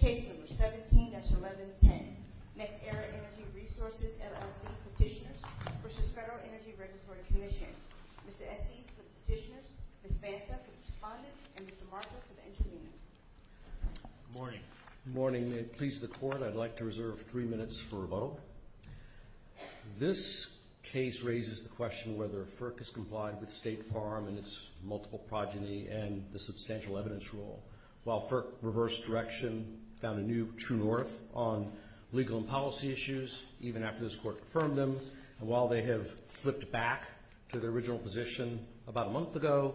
Case number 17-1110, NextEra Energy Resources, LLC Petitioners v. Federal Energy Regulatory Commission. Mr. Estes for the petitioners, Ms. Banta for the respondent, and Mr. Marshall for the intervening. Good morning. Good morning. May it please the Court, I'd like to reserve three minutes for a vote. This case raises the question whether FERC has complied with State Farm and its multiple progeny and the substantial evidence rule. While FERC reversed direction, found a new true north on legal and policy issues, even after this Court confirmed them, and while they have flipped back to their original position about a month ago,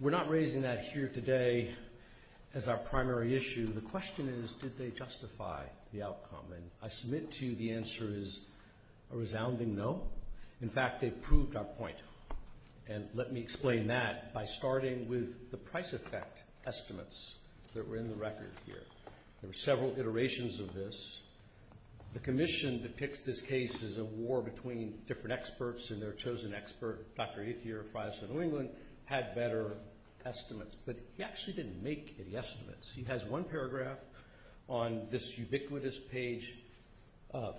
we're not raising that here today as our primary issue. The question is, did they justify the outcome? And I submit to you the answer is a resounding no. In fact, they proved our point, and let me explain that by starting with the price effect estimates that were in the record here. There were several iterations of this. The Commission depicts this case as a war between different experts and their chosen expert, Dr. Ethier of Friesland, New England, had better estimates, but he actually didn't make any estimates. He has one paragraph on this ubiquitous page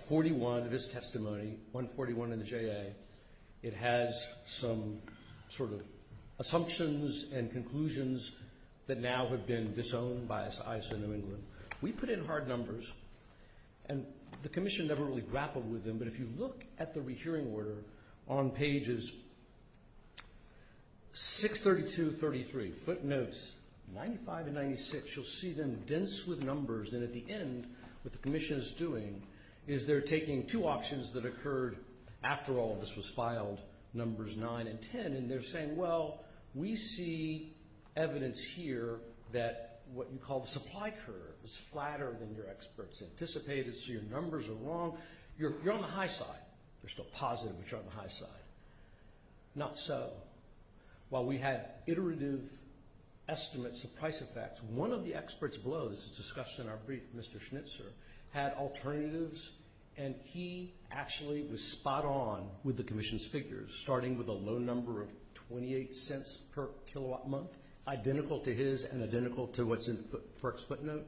41 of his testimony, 141 in the JA. It has some sort of assumptions and conclusions that now have been disowned by ISO New England. We put in hard numbers, and the Commission never really grappled with them, but if you look at the rehearing order on pages 632, 33, footnotes 95 and 96, you'll see them dense with numbers. And at the end, what the Commission is doing is they're taking two options that occurred after all of this was filed, numbers 9 and 10, and they're saying, well, we see evidence here that what you call the supply curve is flatter than your experts anticipated, so your numbers are wrong. You're on the high side. You're still positive, but you're on the high side. Not so. While we had iterative estimates of price effects, one of the experts below, this is discussed in our brief, Mr. Schnitzer, had alternatives, and he actually was spot on with the Commission's figures, starting with a low number of 28 cents per kilowatt month, identical to his and identical to what's in FERC's footnote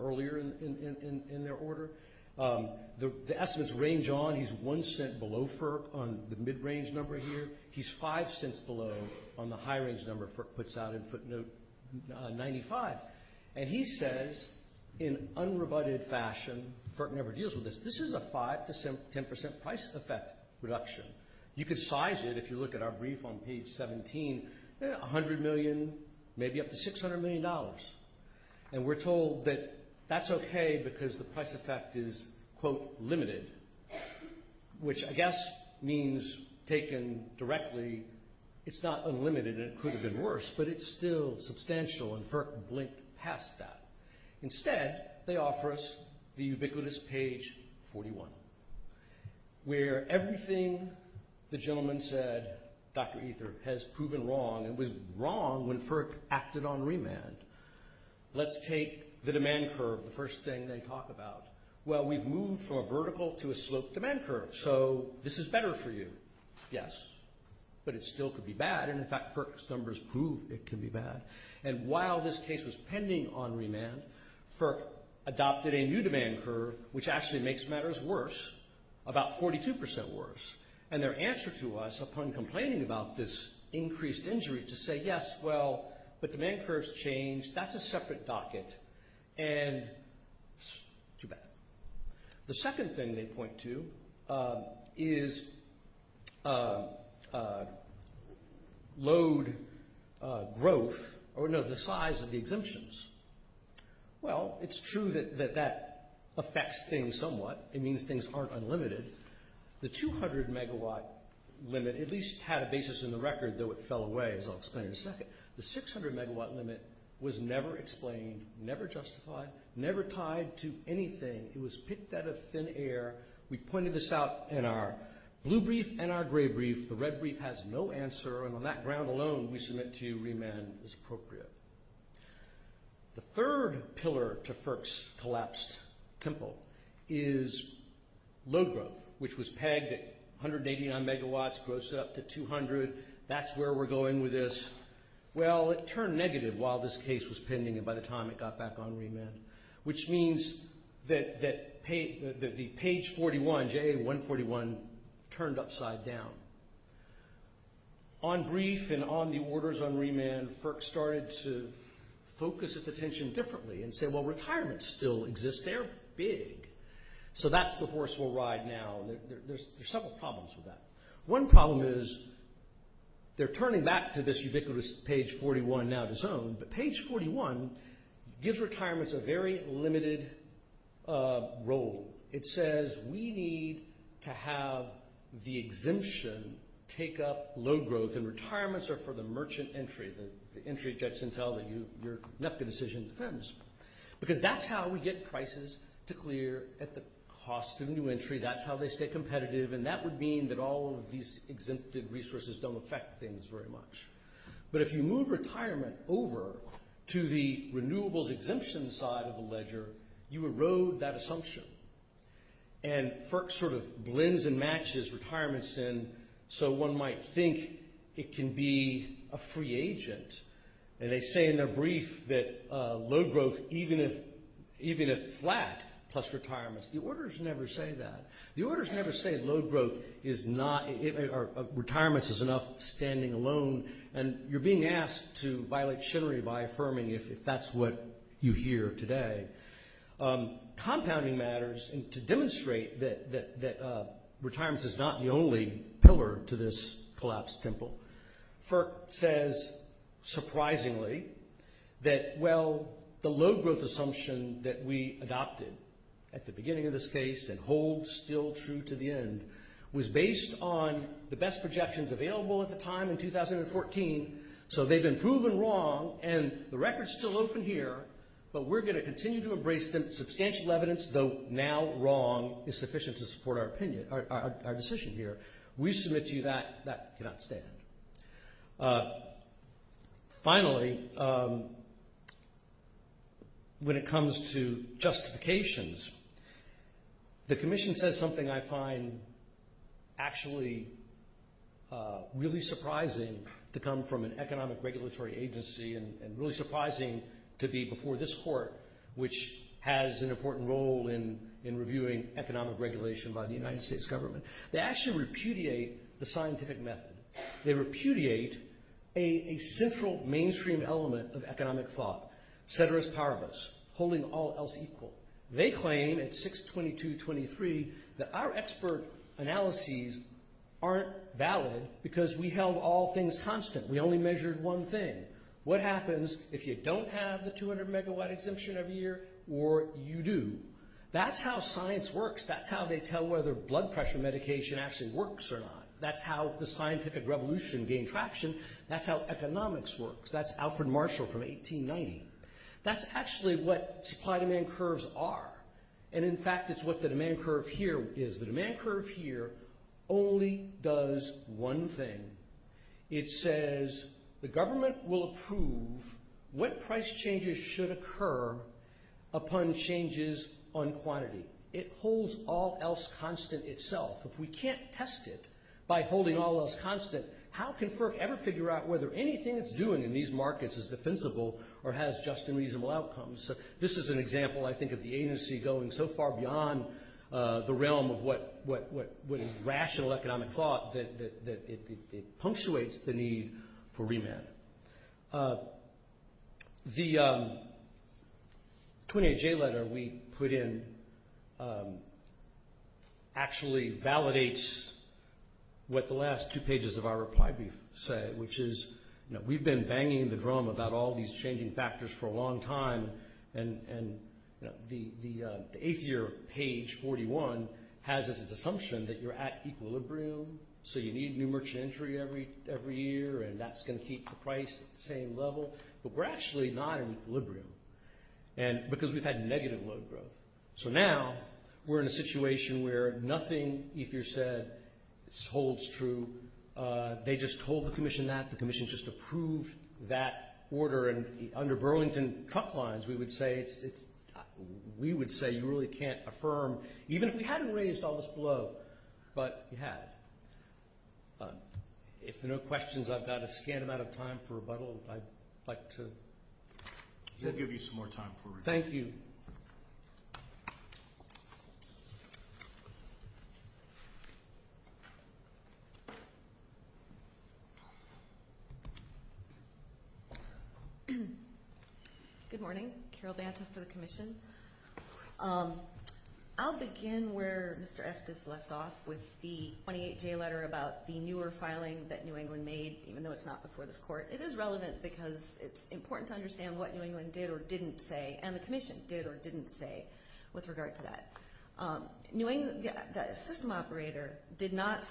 earlier in their order. The estimates range on. He's one cent below FERC on the mid-range number here. He's five cents below on the high-range number FERC puts out in footnote 95. And he says in unrebutted fashion, FERC never deals with this, this is a 5 to 10 percent price effect reduction. You could size it, if you look at our brief on page 17, 100 million, maybe up to $600 million. And we're told that that's okay because the price effect is, quote, limited, which I guess means taken directly, it's not unlimited and it could have been worse, but it's still substantial, and FERC blinked past that. Instead, they offer us the ubiquitous page 41, where everything the gentleman said, Dr. Ether, has proven wrong. It was wrong when FERC acted on remand. Let's take the demand curve, the first thing they talk about. Well, we've moved from a vertical to a sloped demand curve, so this is better for you. Yes, but it still could be bad, and in fact, FERC's numbers prove it could be bad. And while this case was pending on remand, FERC adopted a new demand curve, which actually makes matters worse, about 42 percent worse. And their answer to us, upon complaining about this increased injury, to say, yes, well, but demand curves change. That's a separate docket, and too bad. The second thing they point to is load growth, or no, the size of the exemptions. Well, it's true that that affects things somewhat. It means things aren't unlimited. The 200-megawatt limit at least had a basis in the record, though it fell away, as I'll explain in a second. The 600-megawatt limit was never explained, never justified, never tied to anything. It was picked out of thin air. We pointed this out in our blue brief and our gray brief. The red brief has no answer, and on that ground alone, we submit to you remand is appropriate. The third pillar to FERC's collapsed tempo is load growth, which was pegged at 189 megawatts, grossed up to 200. That's where we're going with this. Well, it turned negative while this case was pending and by the time it got back on remand, which means that the page 41, JA-141, turned upside down. On brief and on the orders on remand, FERC started to focus its attention differently and say, well, retirement still exists. They're big, so that's the horse we'll ride now. There's several problems with that. One problem is they're turning back to this ubiquitous page 41 now to zone, but page 41 gives retirements a very limited role. It says we need to have the exemption take up load growth, and retirements are for the merchant entry, the entry that gets into your NEPCA decision defense, because that's how we get prices to clear at the cost of new entry. That's how they stay competitive, and that would mean that all of these exempted resources don't affect things very much. But if you move retirement over to the renewables exemption side of the ledger, you erode that assumption. FERC sort of blends and matches retirements in so one might think it can be a free agent. They say in their brief that load growth, even if flat plus retirements, the orders never say that. Retirements is enough standing alone, and you're being asked to violate chittery by affirming if that's what you hear today. Compounding matters, and to demonstrate that retirements is not the only pillar to this collapsed temple, FERC says surprisingly that, well, the load growth assumption that we adopted at the beginning of this case and hold still true to the end was based on the best projections available at the time in 2014. So they've been proven wrong, and the record's still open here, but we're going to continue to embrace them. Substantial evidence, though now wrong, is sufficient to support our decision here. We submit to you that that cannot stand. Finally, when it comes to justifications, the commission says something I find actually really surprising to come from an economic regulatory agency and really surprising to be before this court, which has an important role in reviewing economic regulation by the United States government. They actually repudiate the scientific method. They repudiate a central mainstream element of economic thought, ceteris paribus, holding all else equal. They claim at 62223 that our expert analyses aren't valid because we held all things constant. We only measured one thing. What happens if you don't have the 200-megawatt exemption every year, or you do? That's how science works. That's how they tell whether blood pressure medication actually works or not. That's how the scientific revolution gained traction. That's how economics works. That's Alfred Marshall from 1890. That's actually what supply-demand curves are. And, in fact, it's what the demand curve here is. The demand curve here only does one thing. It says the government will approve what price changes should occur upon changes on quantity. It holds all else constant itself. If we can't test it by holding all else constant, how can FERC ever figure out whether anything it's doing in these markets is defensible or has just and reasonable outcomes? This is an example, I think, of the agency going so far beyond the realm of what is rational economic thought that it punctuates the need for remand. The 28J letter we put in actually validates what the last two pages of our reply brief say, which is we've been banging the drum about all these changing factors for a long time, and the eighth-year page, 41, has as its assumption that you're at equilibrium, so you need new merchant entry every year, and that's going to keep the price at the same level. But we're actually not in equilibrium because we've had negative load growth. So now we're in a situation where nothing Ethier said holds true. They just told the commission that. The commission just approved that order, and under Burlington truck lines, we would say you really can't affirm, even if we hadn't raised all this blow, but you had. If there are no questions, I've got a scant amount of time for rebuttal. I'd like to say. We'll give you some more time for rebuttal. Thank you. Good morning. Carol Banta for the commission. I'll begin where Mr. Estes left off with the 28J letter about the newer filing that New England made, even though it's not before this court. It is relevant because it's important to understand what New England did or didn't say, and the commission did or didn't say with regard to that. The system operator did not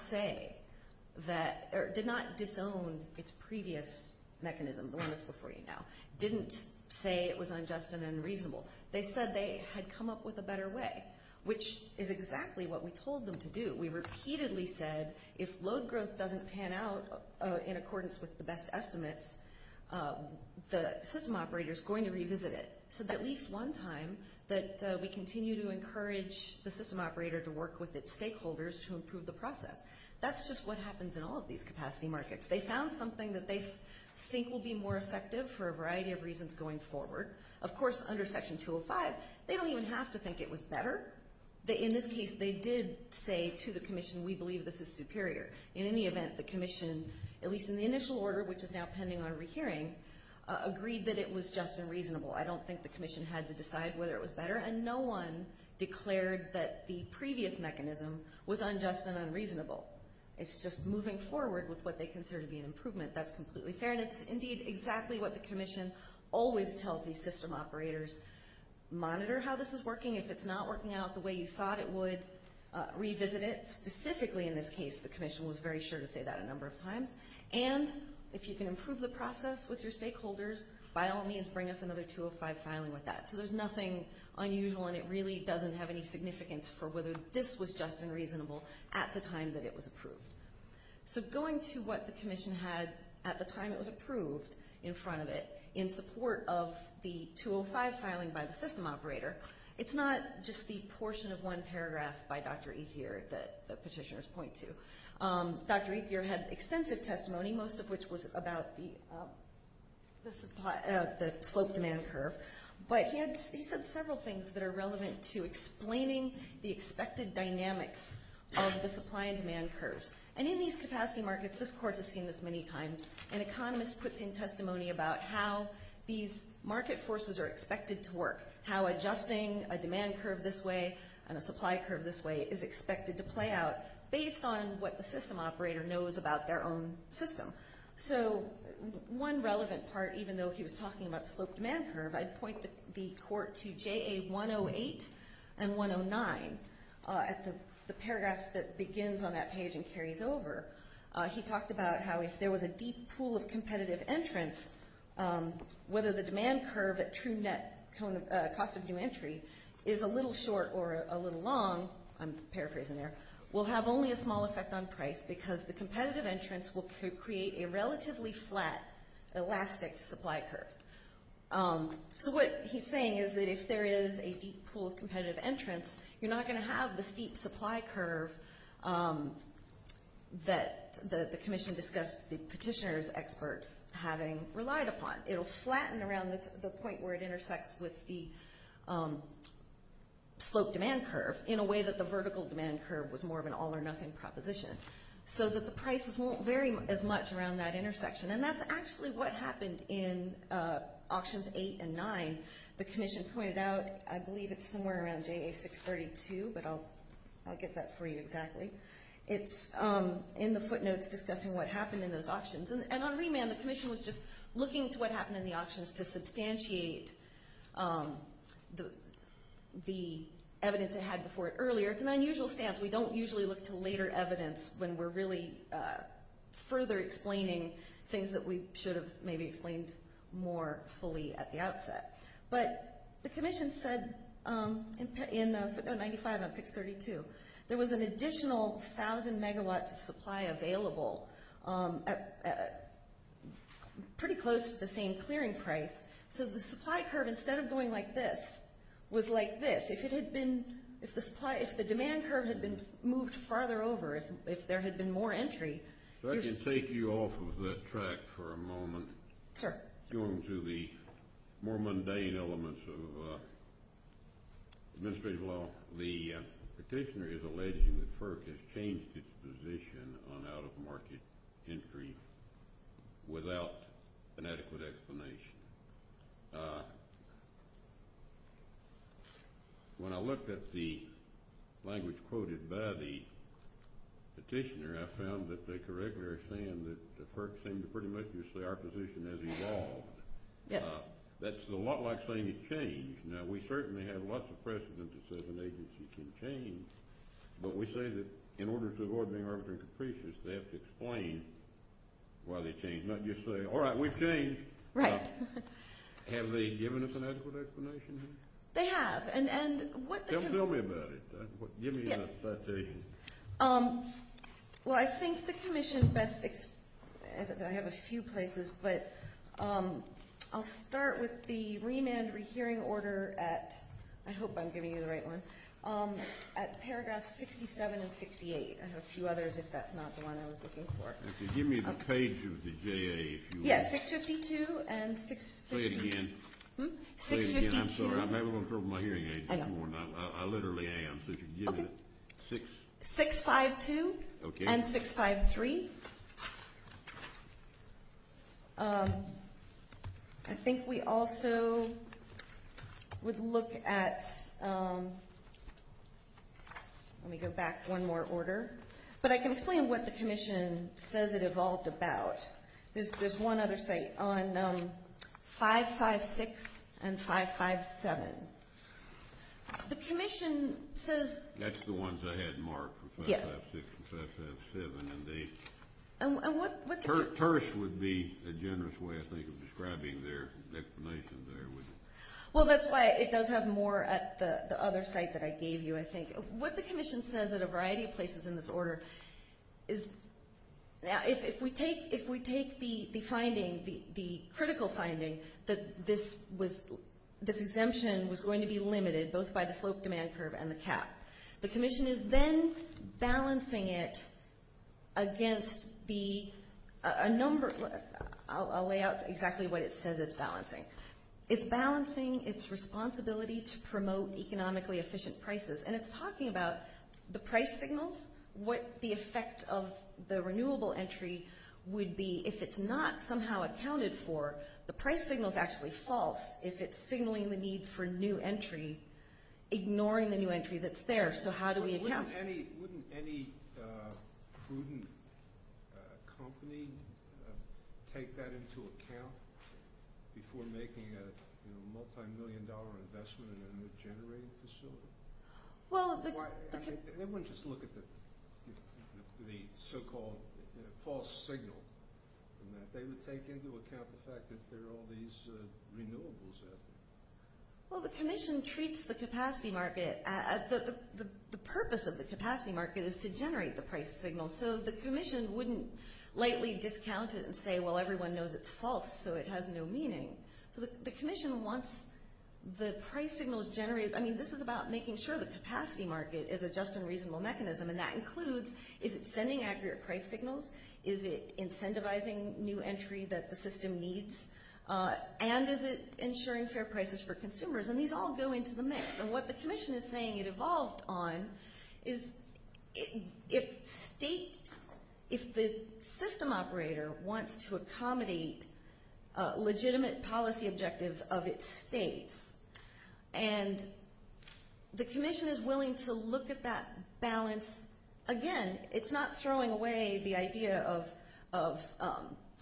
disown its previous mechanism, the one that's before you now, didn't say it was unjust and unreasonable. They said they had come up with a better way, which is exactly what we told them to do. We repeatedly said if load growth doesn't pan out in accordance with the best estimates, the system operator is going to revisit it. We said at least one time that we continue to encourage the system operator to work with its stakeholders to improve the process. That's just what happens in all of these capacity markets. They found something that they think will be more effective for a variety of reasons going forward. Of course, under Section 205, they don't even have to think it was better. In this case, they did say to the commission, we believe this is superior. In any event, the commission, at least in the initial order, which is now pending on rehearing, agreed that it was just and reasonable. I don't think the commission had to decide whether it was better, and no one declared that the previous mechanism was unjust and unreasonable. It's just moving forward with what they consider to be an improvement. That's completely fair, and it's indeed exactly what the commission always tells these system operators. Monitor how this is working. If it's not working out the way you thought it would, revisit it. Specifically in this case, the commission was very sure to say that a number of times. If you can improve the process with your stakeholders, by all means, bring us another 205 filing with that. There's nothing unusual, and it really doesn't have any significance for whether this was just and reasonable at the time that it was approved. Going to what the commission had at the time it was approved in front of it, in support of the 205 filing by the system operator, it's not just the portion of one paragraph by Dr. Ethier that the petitioners point to. Dr. Ethier had extensive testimony, most of which was about the slope demand curve, but he said several things that are relevant to explaining the expected dynamics of the supply and demand curves. And in these capacity markets, this court has seen this many times, an economist puts in testimony about how these market forces are expected to work, how adjusting a demand curve this way and a supply curve this way is expected to play out based on what the system operator knows about their own system. So one relevant part, even though he was talking about the slope demand curve, I'd point the court to JA 108 and 109. At the paragraph that begins on that page and carries over, he talked about how if there was a deep pool of competitive entrants, whether the demand curve at true net cost of new entry is a little short or a little long, I'm paraphrasing there, will have only a small effect on price because the competitive entrants will create a relatively flat elastic supply curve. So what he's saying is that if there is a deep pool of competitive entrants, you're not going to have the steep supply curve that the commission discussed the petitioners experts having relied upon. It will flatten around the point where it intersects with the slope demand curve in a way that the vertical demand curve was more of an all or nothing proposition so that the prices won't vary as much around that intersection. And that's actually what happened in auctions eight and nine. The commission pointed out, I believe it's somewhere around JA 632, but I'll get that for you exactly. It's in the footnotes discussing what happened in those auctions. And on remand, the commission was just looking to what happened in the auctions to substantiate the evidence it had before it earlier. It's an unusual stance. We don't usually look to later evidence when we're really further explaining things that we should have maybe explained more fully at the outset. But the commission said in footnote 95 on 632, there was an additional 1,000 megawatts of supply available pretty close to the same clearing price. So the supply curve, instead of going like this, was like this. If the demand curve had been moved farther over, if there had been more entry. So I can take you off of that track for a moment. Sure. Going through the more mundane elements of administrative law. The petitioner is alleging that FERC has changed its position on out-of-market entry without an adequate explanation. When I looked at the language quoted by the petitioner, I found that they correctly are saying that the FERC seems to pretty much say our position has evolved. Yes. That's a lot like saying it changed. Now, we certainly have lots of precedent that says an agency can change. But we say that in order to avoid being arbitrary and capricious, they have to explain why they changed, not just say, all right, we've changed. Right. Have they given us an adequate explanation here? They have. Tell me about it. Give me a citation. Well, I think the commission best ex—I have a few places, but I'll start with the remand rehearing order at, I hope I'm giving you the right one, at paragraphs 67 and 68. I have a few others if that's not the one I was looking for. Give me the page of the JA if you will. Yes, 652 and 653. Say it again. Say it again. I'm sorry. I'm having a little trouble with my hearing aids. I know. I literally am. So if you can give me the— Okay. 652. Okay. And 653. I think we also would look at—let me go back one more order. But I can explain what the commission says it evolved about. There's one other site on 556 and 557. The commission says— That's the ones I had marked, 556 and 557. And what the— Tersh would be a generous way, I think, of describing their explanation there, wouldn't it? Well, that's why it does have more at the other site that I gave you, I think. What the commission says at a variety of places in this order is if we take the finding, the critical finding, that this exemption was going to be limited both by the slope demand curve and the cap, the commission is then balancing it against the—I'll lay out exactly what it says it's balancing. It's balancing its responsibility to promote economically efficient prices. And it's talking about the price signals, what the effect of the renewable entry would be if it's not somehow accounted for. The price signal is actually false if it's signaling the need for new entry, ignoring the new entry that's there. So how do we account? Wouldn't any prudent company take that into account before making a multimillion-dollar investment in a new generating facility? They wouldn't just look at the so-called false signal. They would take into account the fact that there are all these renewables out there. Well, the commission treats the capacity market—the purpose of the capacity market is to generate the price signal. So the commission wouldn't lightly discount it and say, well, everyone knows it's false, so it has no meaning. So the commission wants the price signals generated. I mean, this is about making sure the capacity market is a just and reasonable mechanism. And that includes, is it sending accurate price signals? Is it incentivizing new entry that the system needs? And is it ensuring fair prices for consumers? And these all go into the mix. And what the commission is saying it evolved on is if states—if the system operator wants to accommodate legitimate policy objectives of its states, and the commission is willing to look at that balance—again, it's not throwing away the idea of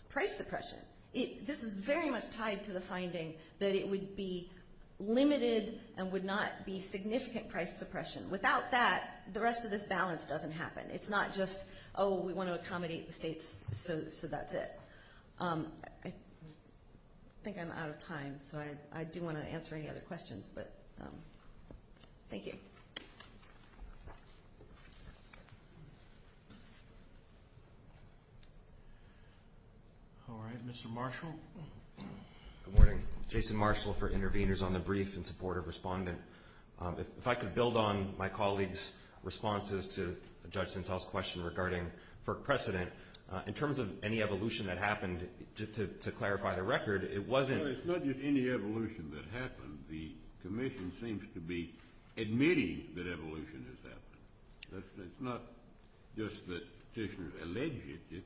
price suppression. This is very much tied to the finding that it would be limited and would not be significant price suppression. Without that, the rest of this balance doesn't happen. It's not just, oh, we want to accommodate the states, so that's it. I think I'm out of time, so I do want to answer any other questions, but thank you. Thank you. All right. Mr. Marshall. Good morning. Jason Marshall for Intervenors on the Brief in support of Respondent. If I could build on my colleague's responses to Judge Sintel's question regarding FERC precedent, in terms of any evolution that happened, to clarify the record, it wasn't— No, it's not just any evolution that happened. The commission seems to be admitting that evolution has happened. It's not just that petitioners allege it.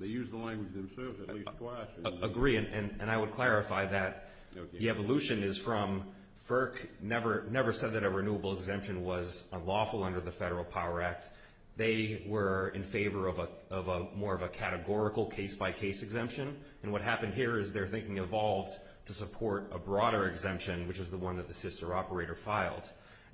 They use the language themselves at least twice. I agree, and I would clarify that the evolution is from—FERC never said that a renewable exemption was unlawful under the Federal Power Act. They were in favor of more of a categorical case-by-case exemption, and what happened here is their thinking evolved to support a broader exemption, which is the one that the sister operator filed,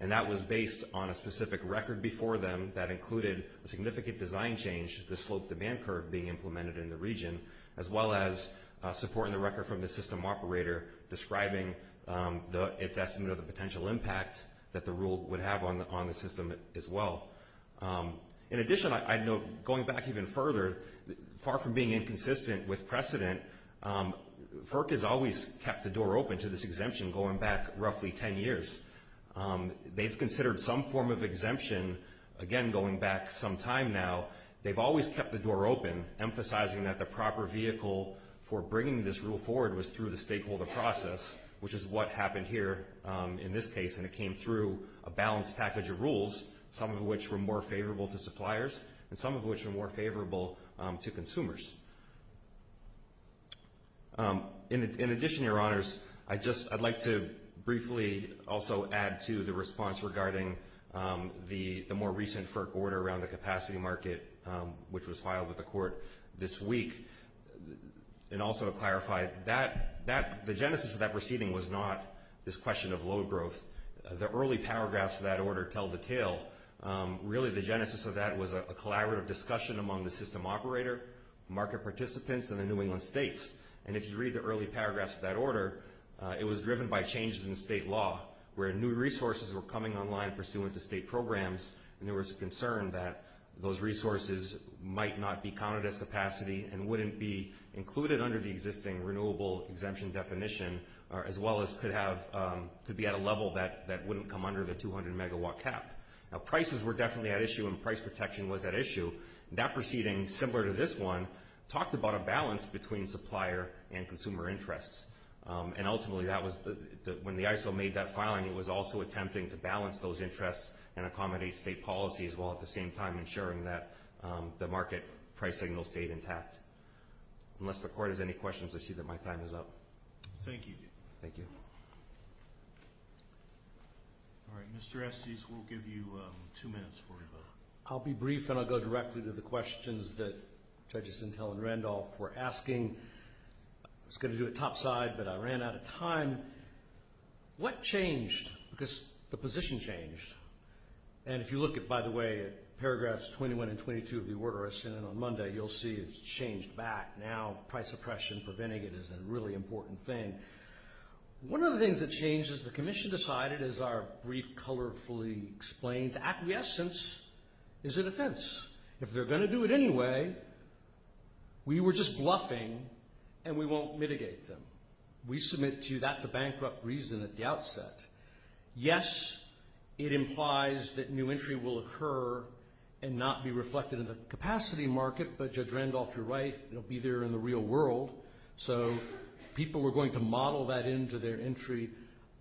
and that was based on a specific record before them that included a significant design change, the slope demand curve being implemented in the region, as well as supporting the record from the system operator, describing its estimate of the potential impact that the rule would have on the system as well. In addition, I'd note, going back even further, far from being inconsistent with precedent, FERC has always kept the door open to this exemption going back roughly 10 years. They've considered some form of exemption again going back some time now. They've always kept the door open, emphasizing that the proper vehicle for bringing this rule forward was through the stakeholder process, which is what happened here in this case, and it came through a balanced package of rules, some of which were more favorable to suppliers and some of which were more favorable to consumers. In addition, Your Honors, I'd like to briefly also add to the response regarding the more recent FERC order around the capacity market, which was filed with the Court this week, and also to clarify, the genesis of that proceeding was not this question of load growth. The early paragraphs of that order tell the tale. Really, the genesis of that was a collaborative discussion among the system operator, market participants, and the New England states. And if you read the early paragraphs of that order, it was driven by changes in state law, where new resources were coming online pursuant to state programs, and there was a concern that those resources might not be counted as capacity and wouldn't be included under the existing renewable exemption definition, as well as could be at a level that wouldn't come under the 200-megawatt cap. Now, prices were definitely at issue and price protection was at issue. That proceeding, similar to this one, talked about a balance between supplier and consumer interests. And ultimately, when the ISO made that filing, it was also attempting to balance those interests and accommodate state policies while at the same time ensuring that the market price signal stayed intact. Unless the Court has any questions, I see that my time is up. Thank you. Thank you. All right, Mr. Estes, we'll give you two minutes for your vote. I'll be brief and I'll go directly to the questions that Judges Sintel and Randolph were asking. I was going to do it topside, but I ran out of time. What changed? Because the position changed. And if you look at, by the way, paragraphs 21 and 22 of the order I sent in on Monday, you'll see it's changed back. Now price suppression for vinegar is a really important thing. One of the things that changed is the Commission decided, as our brief colorfully explains, acquiescence is a defense. If they're going to do it anyway, we were just bluffing and we won't mitigate them. We submit to you that's a bankrupt reason at the outset. Yes, it implies that new entry will occur and not be reflected in the capacity market, but Judge Randolph, you're right, it will be there in the real world. So people were going to model that into their entry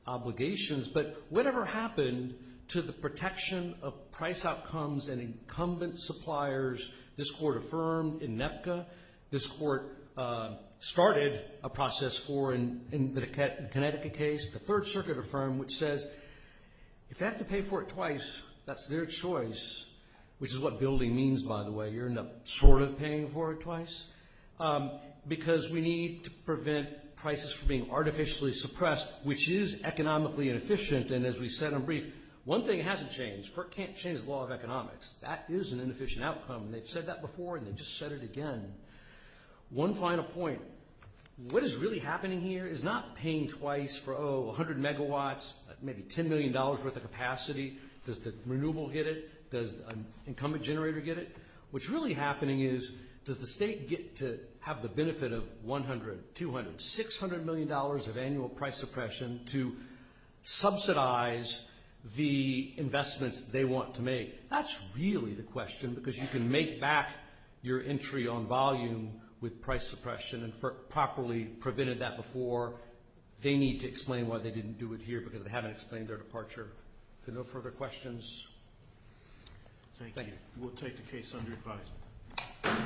obligations. But whatever happened to the protection of price outcomes and incumbent suppliers, this Court affirmed in NEPCA. This Court started a process for, in the Connecticut case, the Third Circuit affirmed, which says if they have to pay for it twice, that's their choice, which is what building means, by the way. You're not sort of paying for it twice, because we need to prevent prices from being artificially suppressed, which is economically inefficient. And as we said in brief, one thing hasn't changed. Court can't change the law of economics. That is an inefficient outcome, and they've said that before and they've just said it again. One final point. What is really happening here is not paying twice for, oh, 100 megawatts, maybe $10 million worth of capacity. Does the renewable get it? Does an incumbent generator get it? What's really happening is, does the state get to have the benefit of 100, 200, $600 million of annual price suppression to subsidize the investments they want to make? That's really the question, because you can make back your entry on volume with price suppression and properly prevented that before. They need to explain why they didn't do it here, because they haven't explained their departure. If there are no further questions. Thank you. We'll take the case under advice.